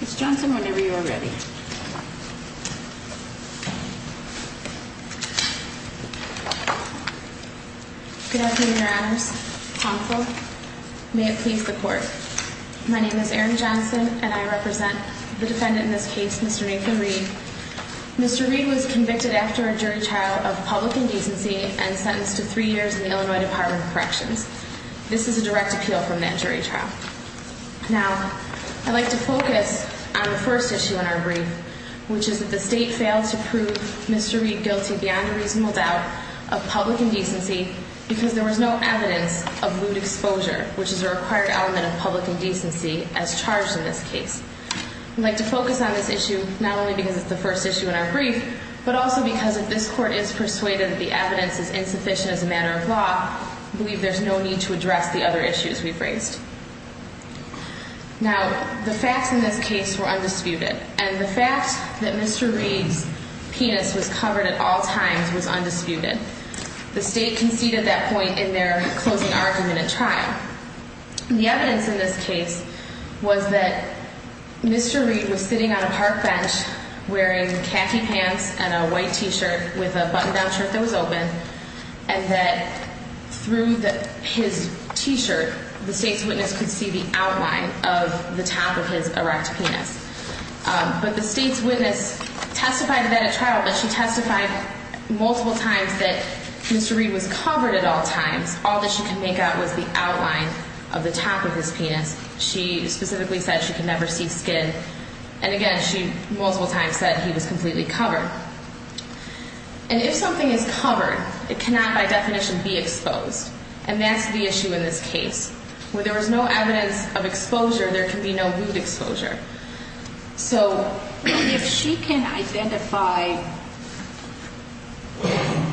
Mrs. Johnson, whenever you are ready. Good afternoon, your honors. May it please the court. My name is Erin Johnson, and I represent the defendant in this case, Mr. Nathan Reed. Mr. Reed was convicted after a jury trial of public indecency and sentenced to three years in the Illinois Department of Corrections. This is a direct appeal from that jury trial. Now, I'd like to focus on the first issue in our brief, which is that the state failed to prove Mr. Reed guilty beyond a reasonable doubt of public indecency because there was no evidence of lewd exposure, which is a required element of public indecency as charged in this case. I'd like to focus on this issue not only because it's the first issue in our brief, but also because if this court is persuaded that the evidence is insufficient as a matter of law, I believe there's no need to address the other issues we've raised. Now, the facts in this case were undisputed, and the fact that Mr. Reed's penis was covered at all times was undisputed. The state conceded that point in their closing argument at trial. The evidence in this case was that Mr. Reed was sitting on a park bench wearing khaki pants and a white t-shirt with a button-down shirt that was open and that through his t-shirt, the state's witness could see the outline of the top of his erect penis. But the state's witness testified then at trial that she testified multiple times that Mr. Reed was covered at all times. All that she could make out was the outline of the top of his penis. She specifically said she could never see skin. And again, she multiple times said he was completely covered. And if something is covered, it cannot by definition be exposed. And that's the issue in this case. Where there was no evidence of exposure, there can be no wound exposure. So if she can identify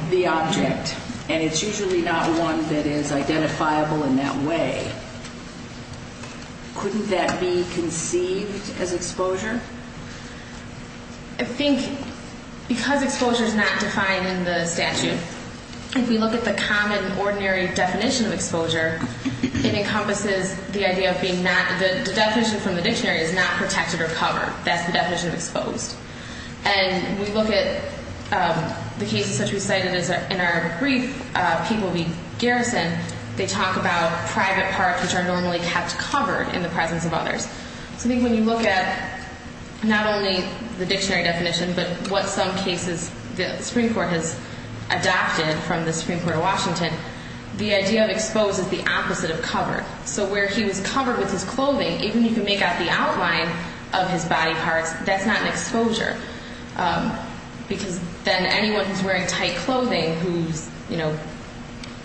the object, and it's usually not one that is identifiable in that way, couldn't that be conceived as exposure? I think because exposure is not defined in the statute, if we look at the common ordinary definition of exposure, it encompasses the idea of being not, the definition from the dictionary is not protected or covered. That's the definition of exposed. And we look at the cases such as we cited in our brief, people being garrisoned, they talk about private parts which are normally kept covered in the presence of others. So I think when you look at not only the dictionary definition, but what some cases the Supreme Court has adopted from the Supreme Court of Washington, the idea of exposed is the opposite of covered. So where he was covered with his clothing, even if you make out the outline of his body parts, that's not an exposure. Because then anyone who's wearing tight clothing whose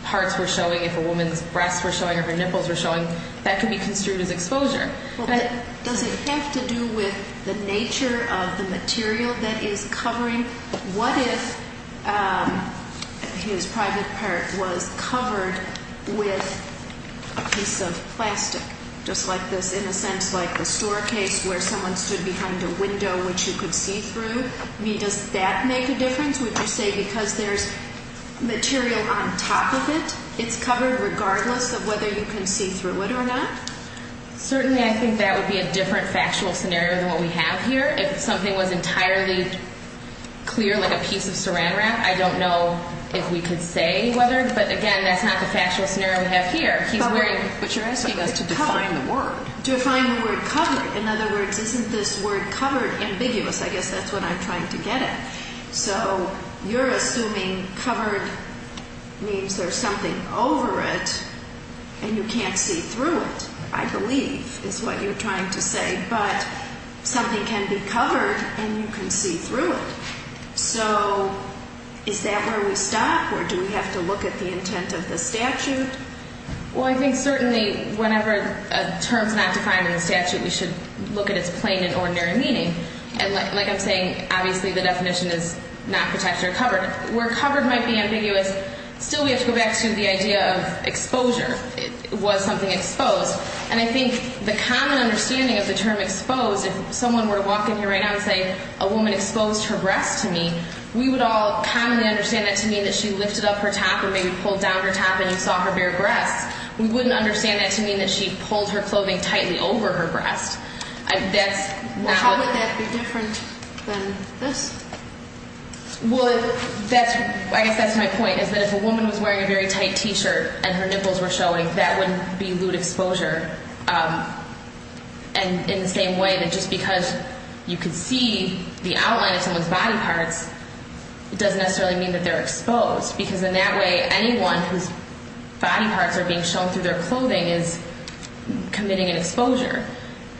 parts were showing, if a woman's breasts were showing or her nipples were showing, that could be construed as exposure. But does it have to do with the nature of the material that is covering? What if his private part was covered with a piece of plastic, just like this, in a sense like a store case where someone stood behind a window which you could see through? Does that make a difference? Would you say because there's material on top of it, it's covered regardless of whether you can see through it or not? Certainly I think that would be a different factual scenario than what we have here. If something was entirely clear like a piece of saran wrap, I don't know if we could say whether, but again, that's not the factual scenario we have here. But you're asking us to define the word. Define the word covered. In other words, isn't this word covered ambiguous? I guess that's what I'm trying to get at. So you're assuming covered means there's something over it and you can't see through it, I believe, is what you're trying to say, but something can be covered and you can see through it. So is that where we stop or do we have to look at the intent of the statute? Well, I think certainly whenever a term is not defined in the statute, we should look at its plain and ordinary meaning. And like I'm saying, obviously the definition is not protected or covered. Where covered might be ambiguous, still we have to go back to the idea of exposure. Was something exposed? And I think the common understanding of the term exposed, if someone were to walk in here right now and say a woman exposed her breast to me, we would all commonly understand that to mean that she lifted up her top and maybe pulled down her top and you saw her bare breasts. We wouldn't understand that to mean that she pulled her clothing tightly over her breast. How would that be different than this? Well, I guess that's my point, is that if a woman was wearing a very tight T-shirt and her nipples were showing, that would be lewd exposure. And in the same way that just because you can see the outline of someone's body parts, it doesn't necessarily mean that they're exposed, because in that way anyone whose body parts are being shown through their clothing is committing an exposure.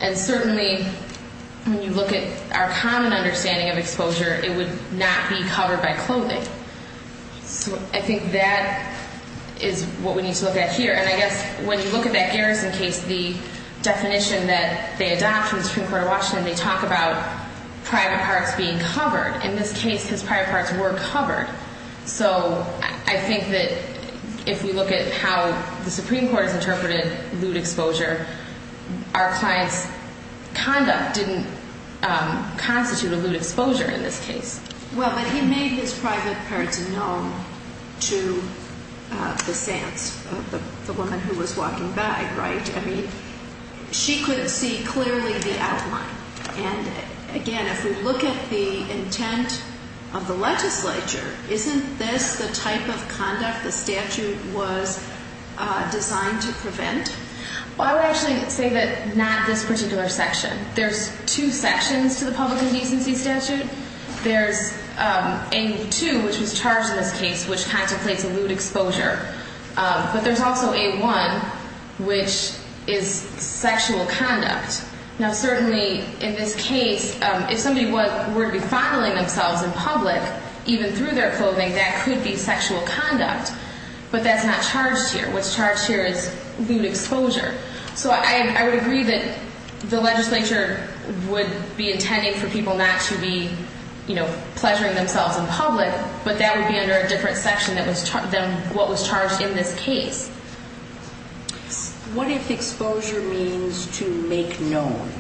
And certainly when you look at our common understanding of exposure, it would not be covered by clothing. So I think that is what we need to look at here. And I guess when you look at that Garrison case, the definition that they adopt in the Supreme Court of Washington, they talk about private parts being covered. In this case, his private parts were covered. So I think that if we look at how the Supreme Court has interpreted lewd exposure, our client's conduct didn't constitute a lewd exposure in this case. Well, but he made his private parts known to the sense of the woman who was walking by, right? I mean, she could see clearly the outline. And, again, if we look at the intent of the legislature, isn't this the type of conduct the statute was designed to prevent? Well, I would actually say that not this particular section. There's two sections to the public indecency statute. There's A2, which was charged in this case, which contemplates a lewd exposure. But there's also A1, which is sexual conduct. Now, certainly in this case, if somebody were to be fondling themselves in public, even through their clothing, that could be sexual conduct. But that's not charged here. What's charged here is lewd exposure. So I would agree that the legislature would be intending for people not to be, you know, pleasuring themselves in public, but that would be under a different section than what was charged in this case. What if exposure means to make known,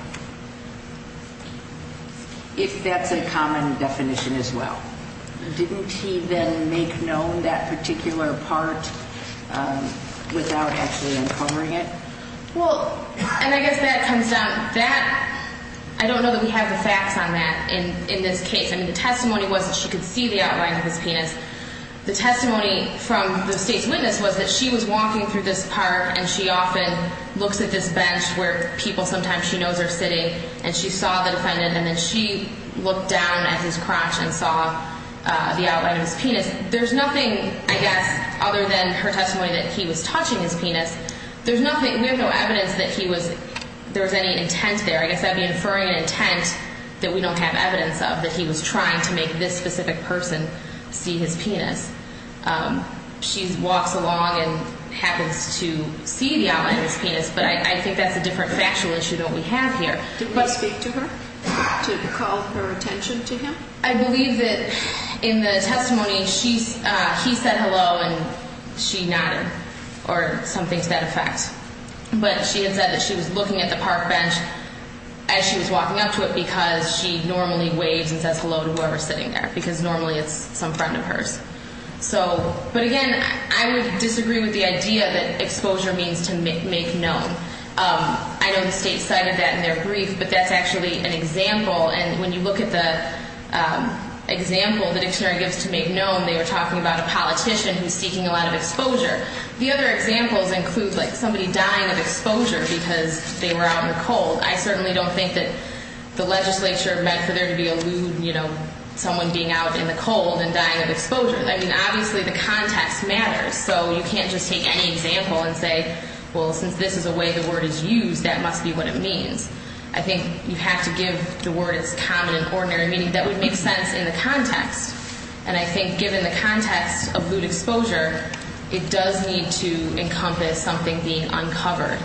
if that's a common definition as well? Didn't he then make known that particular part without actually uncovering it? Well, and I guess that comes down to that. I don't know that we have the facts on that in this case. I mean, the testimony was that she could see the outline of his penis. The testimony from the state's witness was that she was walking through this park, and she often looks at this bench where people sometimes she knows are sitting, and she saw the defendant, and then she looked down at his crotch and saw the outline of his penis. There's nothing, I guess, other than her testimony that he was touching his penis. There's nothing. We have no evidence that he was – there was any intent there. I guess that would be inferring an intent that we don't have evidence of, that he was trying to make this specific person see his penis. She walks along and happens to see the outline of his penis, but I think that's a different factual issue than what we have here. Did he speak to her to call her attention to him? I believe that in the testimony he said hello and she nodded or something to that effect. But she had said that she was looking at the park bench as she was walking up to it because she normally waves and says hello to whoever's sitting there because normally it's some friend of hers. But again, I would disagree with the idea that exposure means to make known. I know the state cited that in their brief, but that's actually an example, and when you look at the example the dictionary gives to make known, they were talking about a politician who's seeking a lot of exposure. The other examples include like somebody dying of exposure because they were out in the cold. I certainly don't think that the legislature meant for there to be a lewd, you know, someone being out in the cold and dying of exposure. I mean, obviously the context matters, so you can't just take any example and say, well, since this is the way the word is used, that must be what it means. I think you have to give the word its common and ordinary meaning. That would make sense in the context, and I think given the context of lewd exposure, it does need to encompass something being uncovered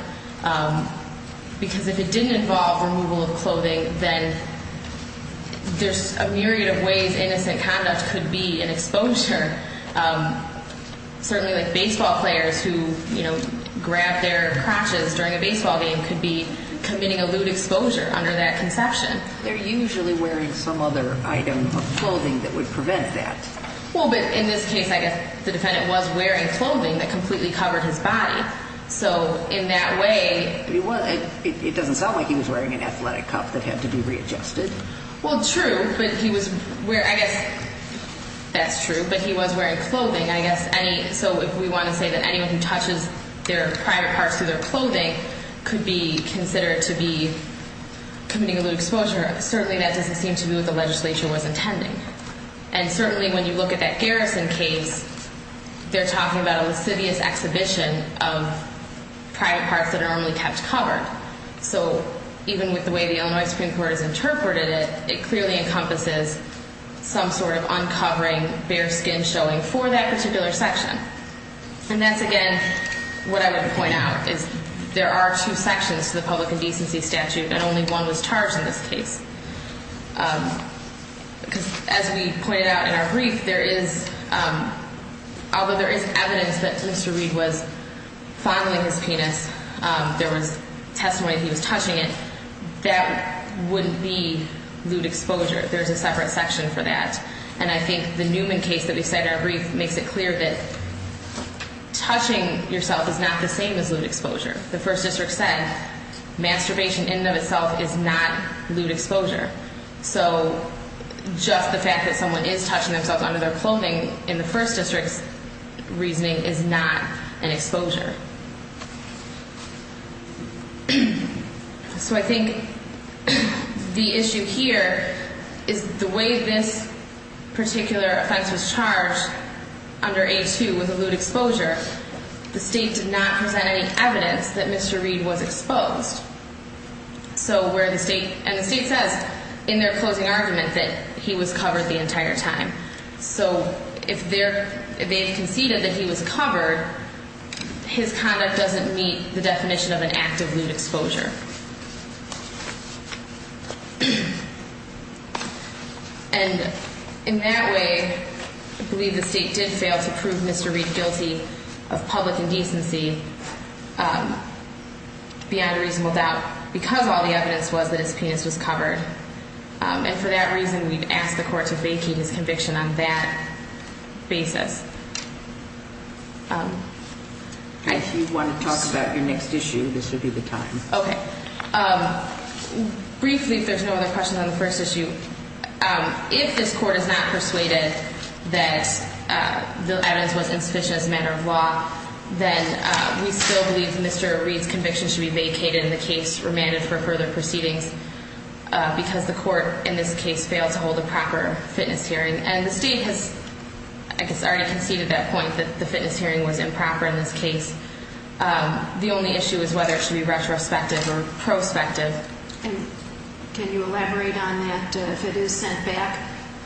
because if it didn't involve removal of clothing, then there's a myriad of ways innocent conduct could be an exposure. Certainly like baseball players who, you know, grab their crotches during a baseball game could be committing a lewd exposure under that conception. They're usually wearing some other item of clothing that would prevent that. Well, but in this case, I guess the defendant was wearing clothing that completely covered his body. So in that way... It doesn't sound like he was wearing an athletic cup that had to be readjusted. Well, true, but he was wearing, I guess, that's true, but he was wearing clothing. I guess any, so if we want to say that anyone who touches their private parts through their clothing could be considered to be committing a lewd exposure, certainly that doesn't seem to be what the legislature was intending. And certainly when you look at that Garrison case, they're talking about a lascivious exhibition of private parts that are only kept covered. So even with the way the Illinois Supreme Court has interpreted it, it clearly encompasses some sort of uncovering, bare skin showing for that particular section. And that's, again, what I would point out is there are two sections to the public indecency statute and only one was charged in this case. Because as we pointed out in our brief, there is, although there is evidence that Mr. Reed was fondling his penis, there was testimony that he was touching it, that wouldn't be lewd exposure. There's a separate section for that. And I think the Newman case that we cite in our brief makes it clear that touching yourself is not the same as lewd exposure. The first district said masturbation in and of itself is not lewd exposure. So just the fact that someone is touching themselves under their clothing in the first district's reasoning is not an exposure. So I think the issue here is the way this particular offense was charged under A2 was a lewd exposure. The state did not present any evidence that Mr. Reed was exposed. So where the state, and the state says in their closing argument that he was covered the entire time. So if they conceded that he was covered, his conduct doesn't meet the definition of an act of lewd exposure. And in that way, I believe the state did fail to prove Mr. Reed guilty of public indecency beyond a reasonable doubt, because all the evidence was that his penis was covered. And for that reason, we've asked the court to vacate his conviction on that basis. If you want to talk about your next issue, this would be the time. Okay. Briefly, if there's no other questions on the first issue, if this court is not persuaded that the evidence was insufficient as a matter of law, then we still believe Mr. Reed's conviction should be vacated and the case remanded for further proceedings, because the court in this case failed to hold a proper fitness hearing. And the state has, I guess, already conceded that point that the fitness hearing was improper in this case. The only issue is whether it should be retrospective or prospective. And can you elaborate on that? If it is sent back,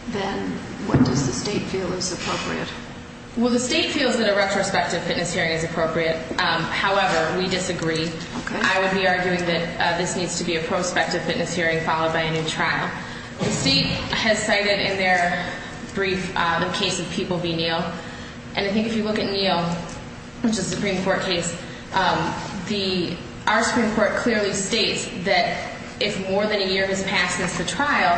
then what does the state feel is appropriate? Well, the state feels that a retrospective fitness hearing is appropriate. However, we disagree. I would be arguing that this needs to be a prospective fitness hearing followed by a new trial. And I think if you look at Neal, which is a Supreme Court case, our Supreme Court clearly states that if more than a year has passed since the trial,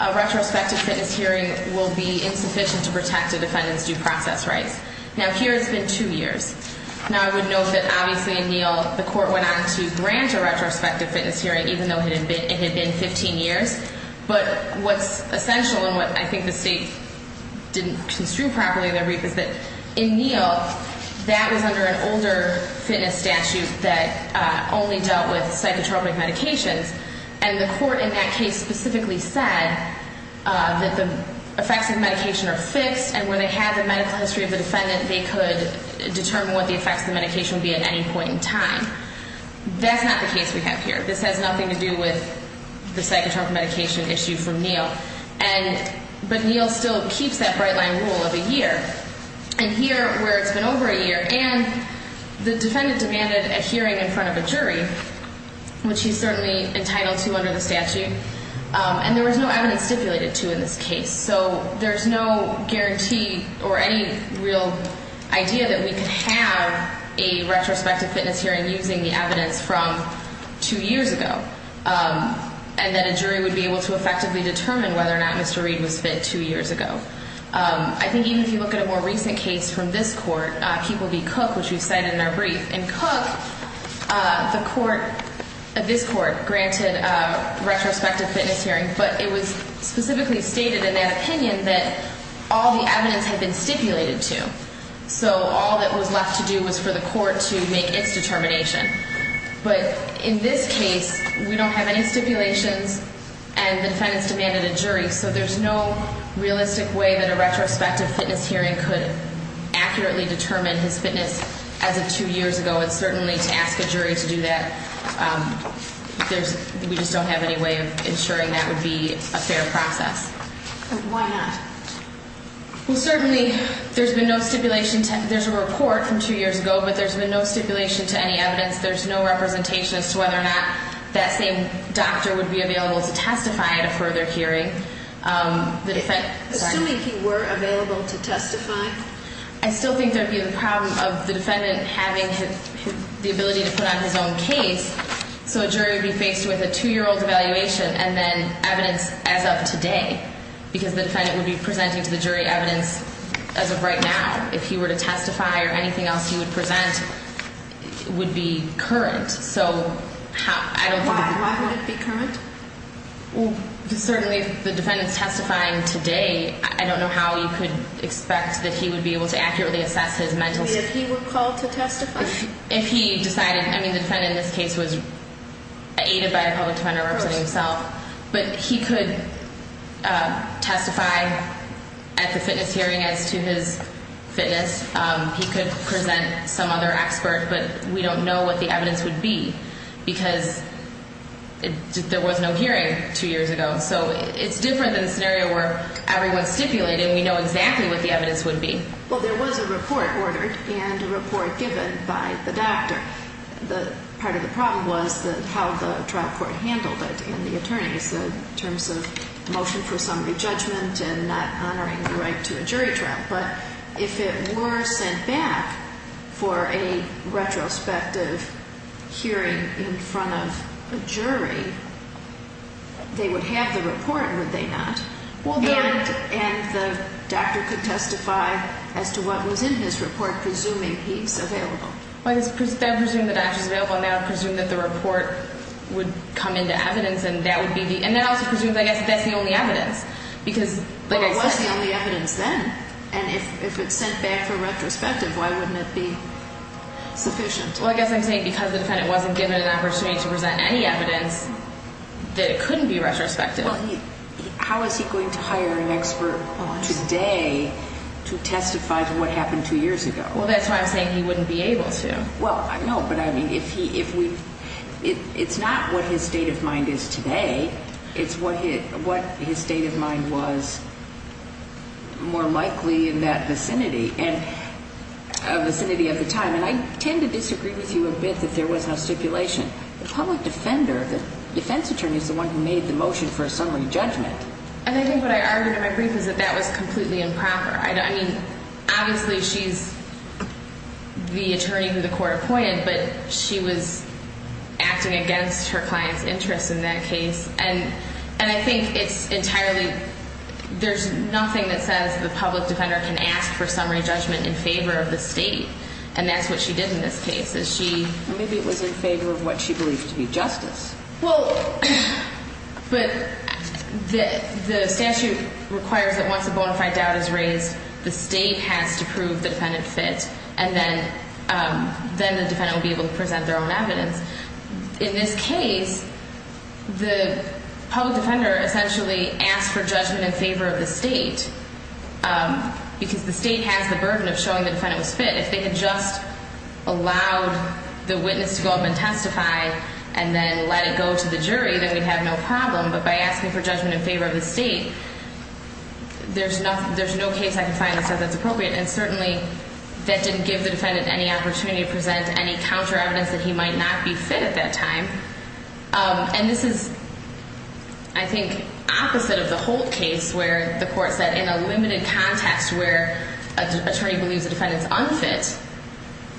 a retrospective fitness hearing will be insufficient to protect a defendant's due process rights. Now, here it's been two years. Now, I would note that, obviously, in Neal, the court went on to grant a retrospective fitness hearing, even though it had been 15 years. But what's essential, and what I think the state didn't construe properly in their brief, is that in Neal, that was under an older fitness statute that only dealt with psychotropic medications. And the court in that case specifically said that the effects of the medication are fixed, and when they had the medical history of the defendant, they could determine what the effects of the medication would be at any point in time. That's not the case we have here. This has nothing to do with the psychotropic medication issue from Neal. But Neal still keeps that bright-line rule of a year. And here, where it's been over a year, and the defendant demanded a hearing in front of a jury, which he's certainly entitled to under the statute, and there was no evidence stipulated to in this case. So there's no guarantee or any real idea that we could have a retrospective fitness hearing if we were using the evidence from two years ago, and that a jury would be able to effectively determine whether or not Mr. Reed was fit two years ago. I think even if you look at a more recent case from this court, Keeple v. Cook, which we cited in our brief, in Cook, this court granted a retrospective fitness hearing, but it was specifically stated in that opinion that all the evidence had been stipulated to. So all that was left to do was for the court to make its determination. But in this case, we don't have any stipulations, and the defendants demanded a jury, so there's no realistic way that a retrospective fitness hearing could accurately determine his fitness as of two years ago. And certainly to ask a jury to do that, we just don't have any way of ensuring that would be a fair process. Why not? Well, certainly there's been no stipulation. There's a report from two years ago, but there's been no stipulation to any evidence. There's no representation as to whether or not that same doctor would be available to testify at a further hearing. Assuming he were available to testify? I still think there would be the problem of the defendant having the ability to put on his own case, so a jury would be faced with a two-year-old evaluation and then evidence as of today, because the defendant would be presenting to the jury evidence as of right now. If he were to testify or anything else he would present, it would be current. So I don't think it would be current. Why would it be current? Well, certainly if the defendant's testifying today, I don't know how you could expect that he would be able to accurately assess his mental state. If he were called to testify? If he decided. Of course. But he could testify at the fitness hearing as to his fitness. He could present some other expert, but we don't know what the evidence would be, because there was no hearing two years ago. So it's different than the scenario where everyone's stipulated and we know exactly what the evidence would be. Well, there was a report ordered and a report given by the doctor. Part of the problem was how the trial court handled it and the attorneys, in terms of motion for summary judgment and not honoring the right to a jury trial. But if it were sent back for a retrospective hearing in front of a jury, they would have the report, would they not? And the doctor could testify as to what was in his report, presuming he's available. They would presume the doctor's available and they would presume that the report would come into evidence and that also presumes, I guess, that that's the only evidence. But it was the only evidence then. And if it's sent back for retrospective, why wouldn't it be sufficient? Well, I guess I'm saying because the defendant wasn't given an opportunity to present any evidence, that it couldn't be retrospective. How is he going to hire an expert today to testify to what happened two years ago? Well, that's why I'm saying he wouldn't be able to. Well, I know, but I mean, it's not what his state of mind is today. It's what his state of mind was more likely in that vicinity of the time. And I tend to disagree with you a bit that there was no stipulation. The public defender, the defense attorney, is the one who made the motion for a summary judgment. And I think what I argued in my brief is that that was completely improper. I mean, obviously she's the attorney who the court appointed, but she was acting against her client's interest in that case. And I think it's entirely – there's nothing that says the public defender can ask for summary judgment in favor of the state. And that's what she did in this case, is she – Or maybe it was in favor of what she believed to be justice. Well, but the statute requires that once a bona fide doubt is raised, the state has to prove the defendant fit, and then the defendant will be able to present their own evidence. In this case, the public defender essentially asked for judgment in favor of the state because the state has the burden of showing the defendant was fit. If they had just allowed the witness to go up and testify and then let it go to the jury, then we'd have no problem. But by asking for judgment in favor of the state, there's no case I can find that says that's appropriate. And certainly, that didn't give the defendant any opportunity to present any counter evidence that he might not be fit at that time. And this is, I think, opposite of the Holt case where the court said in a limited context where an attorney believes a defendant is unfit,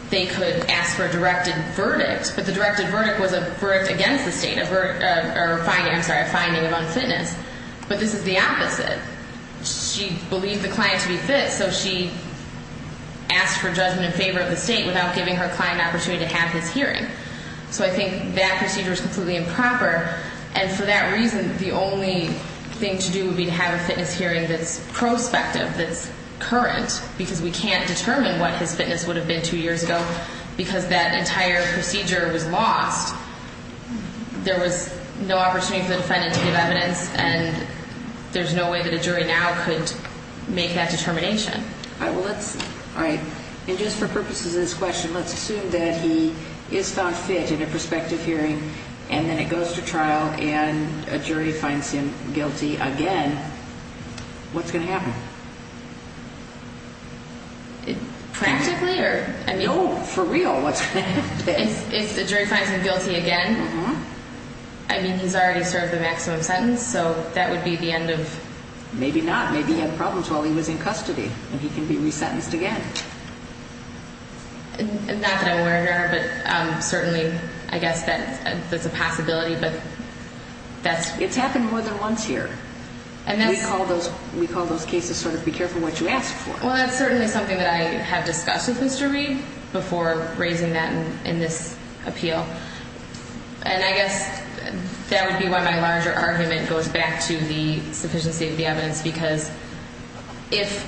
they could ask for a directed verdict. But the directed verdict was a verdict against the state, a verdict – or a finding – I'm sorry – a finding of unfitness. But this is the opposite. She believed the client to be fit, so she asked for judgment in favor of the state without giving her client an opportunity to have his hearing. So I think that procedure is completely improper. And for that reason, the only thing to do would be to have a fitness hearing that's prospective, that's current, because we can't determine what his fitness would have been two years ago. Because that entire procedure was lost, there was no opportunity for the defendant to give evidence, and there's no way that a jury now could make that determination. All right. And just for purposes of this question, let's assume that he is found fit in a prospective hearing, and then it goes to trial, and a jury finds him guilty again. What's going to happen? Practically? No, for real, what's going to happen? If the jury finds him guilty again, I mean, he's already served the maximum sentence, so that would be the end of… Maybe not. Maybe he had problems while he was in custody, and he can be resentenced again. Not that I'm aware of, but certainly I guess that's a possibility, but that's… It's happened more than once here. And we call those cases sort of be careful what you ask for. Well, that's certainly something that I have discussed with Mr. Reed before raising that in this appeal. And I guess that would be why my larger argument goes back to the sufficiency of the evidence, because if,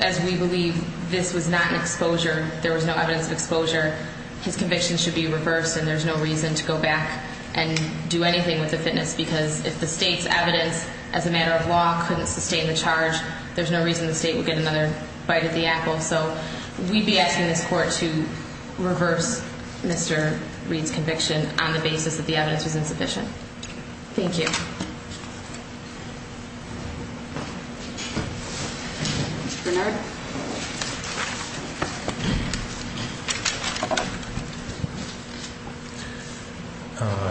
as we believe, this was not an exposure, there was no evidence of exposure, his conviction should be reversed and there's no reason to go back and do anything with the fitness, because if the state's evidence as a matter of law couldn't sustain the charge, there's no reason the state would get another bite of the apple. So we'd be asking this court to reverse Mr. Reed's conviction on the basis that the evidence was insufficient. Thank you. Mr. Bernard?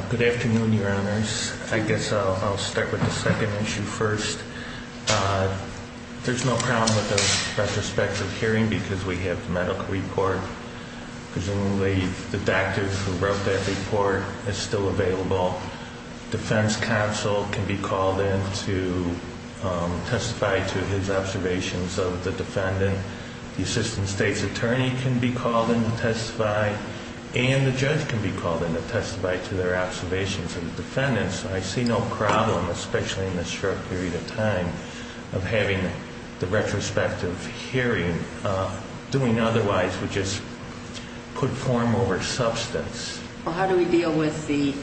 Good afternoon, Your Honors. I guess I'll start with the second issue first. There's no problem with the retrospective hearing because we have the medical report. Presumably the doctor who wrote that report is still available. Defense counsel can be called in to testify to his observations of the defendant. The assistant state's attorney can be called in to testify, and the judge can be called in to testify to their observations of the defendant. So I see no problem, especially in this short period of time, of having the retrospective hearing. Doing otherwise would just put form over substance. Well, how do we deal with the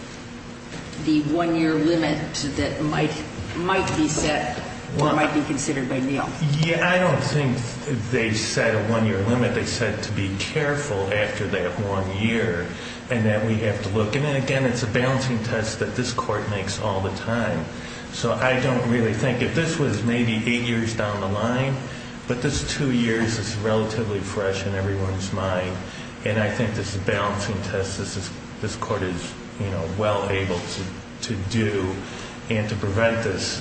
one-year limit that might be set or might be considered by Neal? Yeah, I don't think they set a one-year limit. They said to be careful after that one year and that we have to look. And, again, it's a balancing test that this court makes all the time. So I don't really think if this was maybe eight years down the line, but this two years is relatively fresh in everyone's mind, and I think this is a balancing test this court is well able to do and to prevent this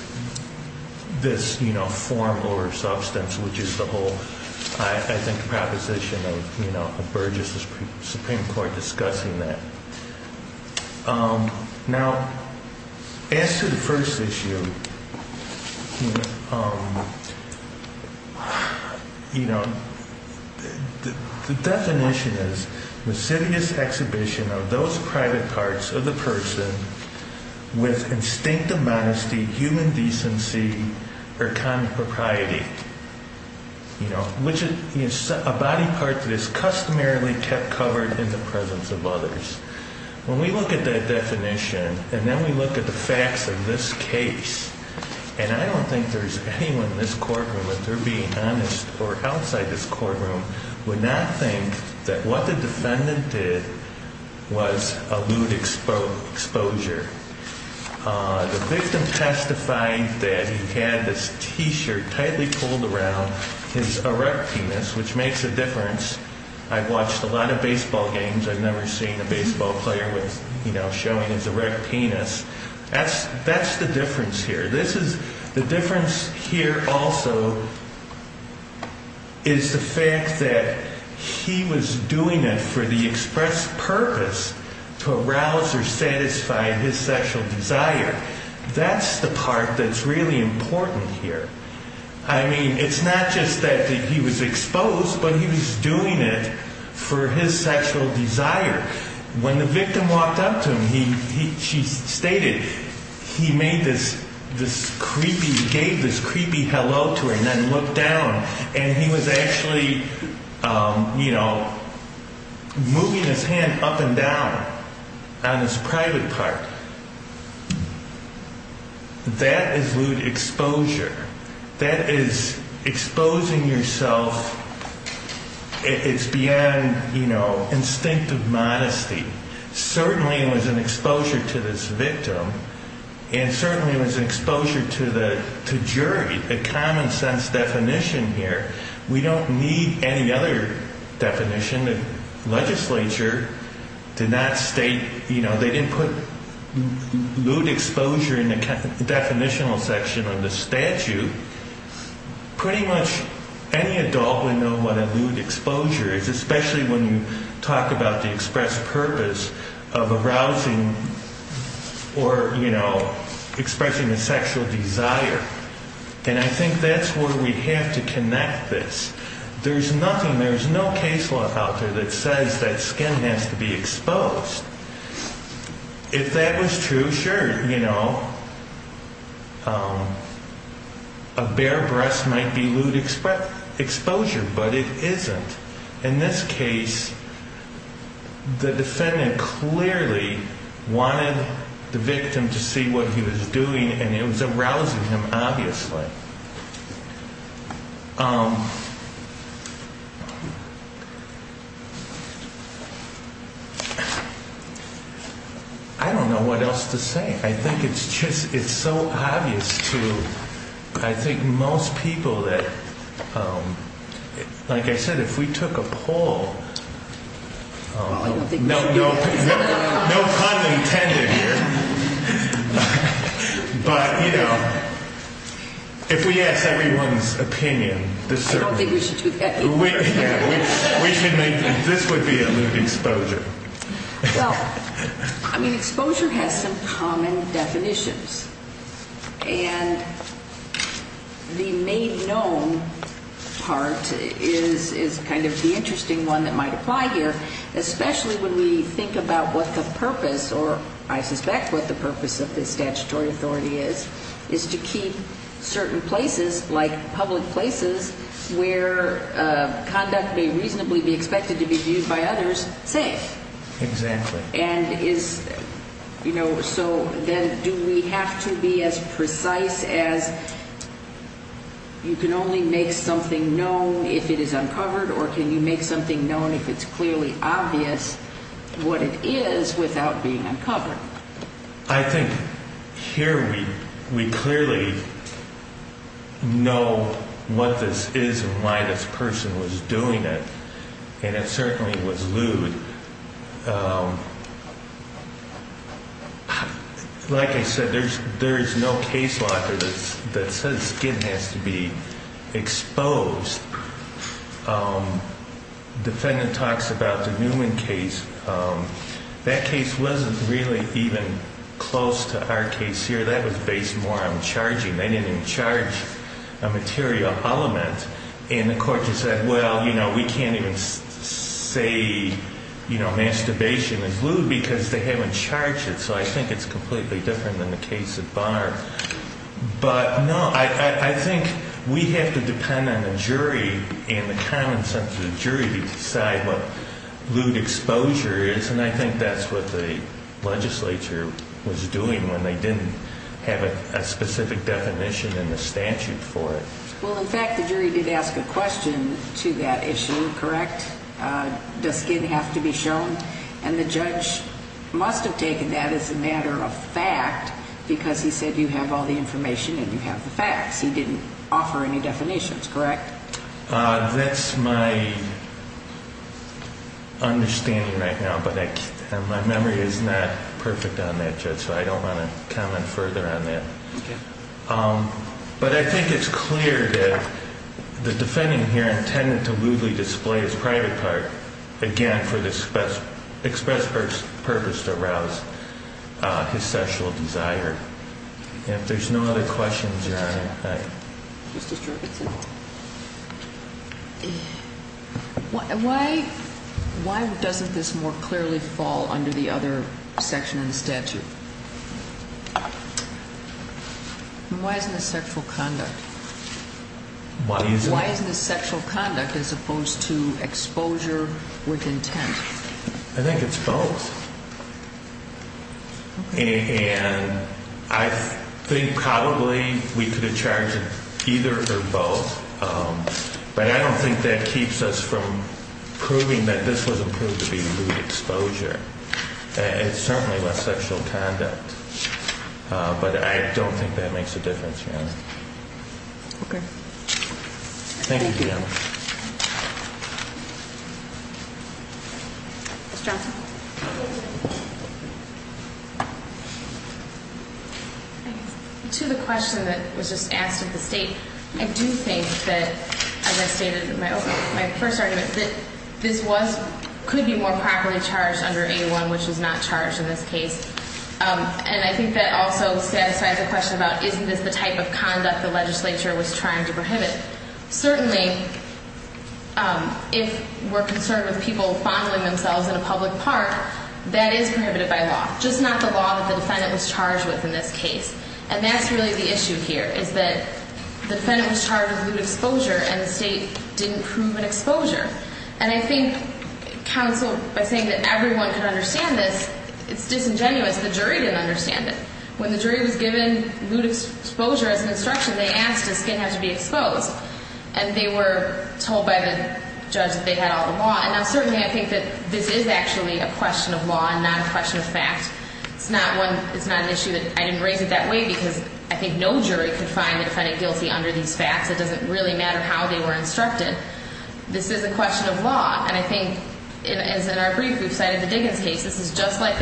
form over substance, which is the whole, I think, proposition of Burgess Supreme Court discussing that. Now, as to the first issue, you know, the definition is, recidivist exhibition of those private parts of the person with instinct of modesty, human decency, or common propriety, which is a body part that is customarily kept covered in the presence of others. When we look at that definition and then we look at the facts of this case, and I don't think there's anyone in this courtroom, if they're being honest, or outside this courtroom, would not think that what the defendant did was a lewd exposure. The victim testified that he had this T-shirt tightly pulled around his erect penis, which makes a difference. I've watched a lot of baseball games, I've never seen a baseball player showing his erect penis. That's the difference here. The difference here also is the fact that he was doing it for the express purpose to arouse or satisfy his sexual desire. That's the part that's really important here. I mean, it's not just that he was exposed, but he was doing it for his sexual desire. When the victim walked up to him, she stated, he made this creepy, gave this creepy hello to her, and then looked down, and he was actually, you know, moving his hand up and down on his private part. That is lewd exposure. That is exposing yourself, it's beyond, you know, instinctive modesty. Certainly it was an exposure to this victim, and certainly it was an exposure to the jury. The common sense definition here, we don't need any other definition. The legislature did not state, you know, they didn't put lewd exposure in the definitional section of the statute. Pretty much any adult would know what a lewd exposure is, especially when you talk about the express purpose of arousing or, you know, expressing a sexual desire. And I think that's where we have to connect this. There's nothing, there's no case law out there that says that skin has to be exposed. If that was true, sure, you know, a bare breast might be lewd exposure, but it isn't. In this case, the defendant clearly wanted the victim to see what he was doing, and it was arousing him, obviously. I don't know what else to say. I think it's just, it's so obvious to, I think, most people that, like I said, if we took a poll, no pun intended here, but, you know, if we asked everyone's opinion, I don't think we should do that either. We should make, this would be a lewd exposure. Well, I mean, exposure has some common definitions. And the main known part is kind of the interesting one that might apply here, especially when we think about what the purpose, or I suspect what the purpose of this statutory authority is, is to keep certain places, like public places, where conduct may reasonably be expected to be viewed by others, safe. Exactly. And is, you know, so then do we have to be as precise as you can only make something known if it is uncovered, or can you make something known if it's clearly obvious what it is without being uncovered? I think here we clearly know what this is and why this person was doing it, and it certainly was lewd. Like I said, there is no case locker that says skin has to be exposed. The defendant talks about the Newman case. That case wasn't really even close to our case here. That was based more on charging. They didn't even charge a material element. And the court just said, well, you know, we can't even say masturbation is lewd because they haven't charged it. So I think it's completely different than the case at bar. But, no, I think we have to depend on the jury and the common sense of the jury to decide what lewd exposure is, and I think that's what the legislature was doing when they didn't have a specific definition in the statute for it. Well, in fact, the jury did ask a question to that issue, correct? Does skin have to be shown? And the judge must have taken that as a matter of fact because he said you have all the information and you have the facts. He didn't offer any definitions, correct? That's my understanding right now, but my memory is not perfect on that, Judge, so I don't want to comment further on that. But I think it's clear that the defendant here intended to lewdly display his private part, again, for the express purpose to arouse his sexual desire. If there's no other questions, Your Honor. Why doesn't this more clearly fall under the other section in the statute? Why isn't it sexual conduct? Why isn't it sexual conduct as opposed to exposure with intent? I think it's both. And I think probably we could have charged either or both, but I don't think that keeps us from proving that this was approved to be lewd exposure. It's certainly less sexual conduct, but I don't think that makes a difference, Your Honor. Thank you, Your Honor. Ms. Johnson. To the question that was just asked of the State, I do think that, as I stated in my opening, my first argument is that this could be more properly charged under A1, which is not charged in this case. And I think that also satisfies the question about isn't this the type of conduct the legislature was trying to prohibit. Certainly, if we're concerned with people fondling themselves in a public park, that is prohibited by law, just not the law that the defendant was charged with in this case. And that's really the issue here, is that the defendant was charged with lewd exposure and the State didn't prove an exposure. And I think counsel, by saying that everyone could understand this, it's disingenuous. The jury didn't understand it. When the jury was given lewd exposure as an instruction, they asked, does skin have to be exposed? And they were told by the judge that they had all the law. And now, certainly, I think that this is actually a question of law and not a question of fact. It's not an issue that I didn't raise it that way because I think no jury could find the defendant guilty under these facts. It doesn't really matter how they were instructed. This is a question of law. And I think, as in our brief, we've cited the Diggins case. This is just like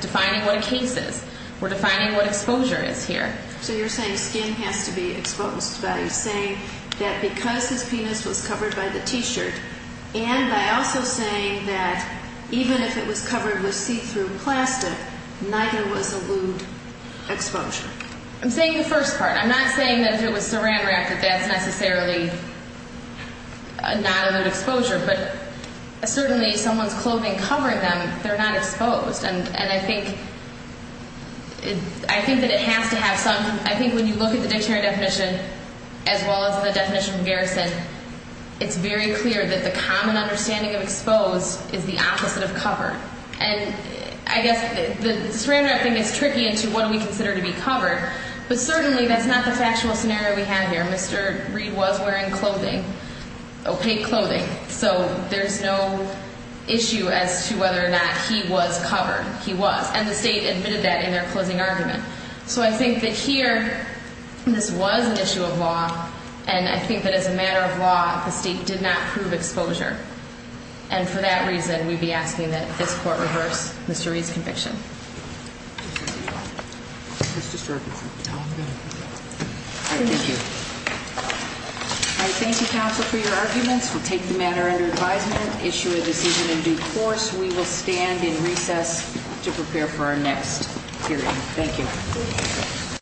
defining what a case is. We're defining what exposure is here. So you're saying skin has to be exposed. You're saying that because his penis was covered by the T-shirt and by also saying that even if it was covered with see-through plastic, neither was a lewd exposure. I'm saying the first part. I'm not saying that if it was saran-wrapped that that's necessarily not a lewd exposure. But certainly, if someone's clothing covered them, they're not exposed. And I think that it has to have some – I think when you look at the dictionary definition as well as the definition of garrison, it's very clear that the common understanding of exposed is the opposite of covered. And I guess the saran-wrapping is tricky into what we consider to be covered. But certainly, that's not the factual scenario we have here. Mr. Reed was wearing clothing, opaque clothing. So there's no issue as to whether or not he was covered. He was. And the state admitted that in their closing argument. So I think that here, this was an issue of law. And I think that as a matter of law, the state did not prove exposure. And for that reason, we'd be asking that this Court reverse Mr. Reed's conviction. Thank you. All right. Thank you, counsel, for your arguments. We'll take the matter under advisement, issue a decision in due course. We will stand in recess to prepare for our next hearing.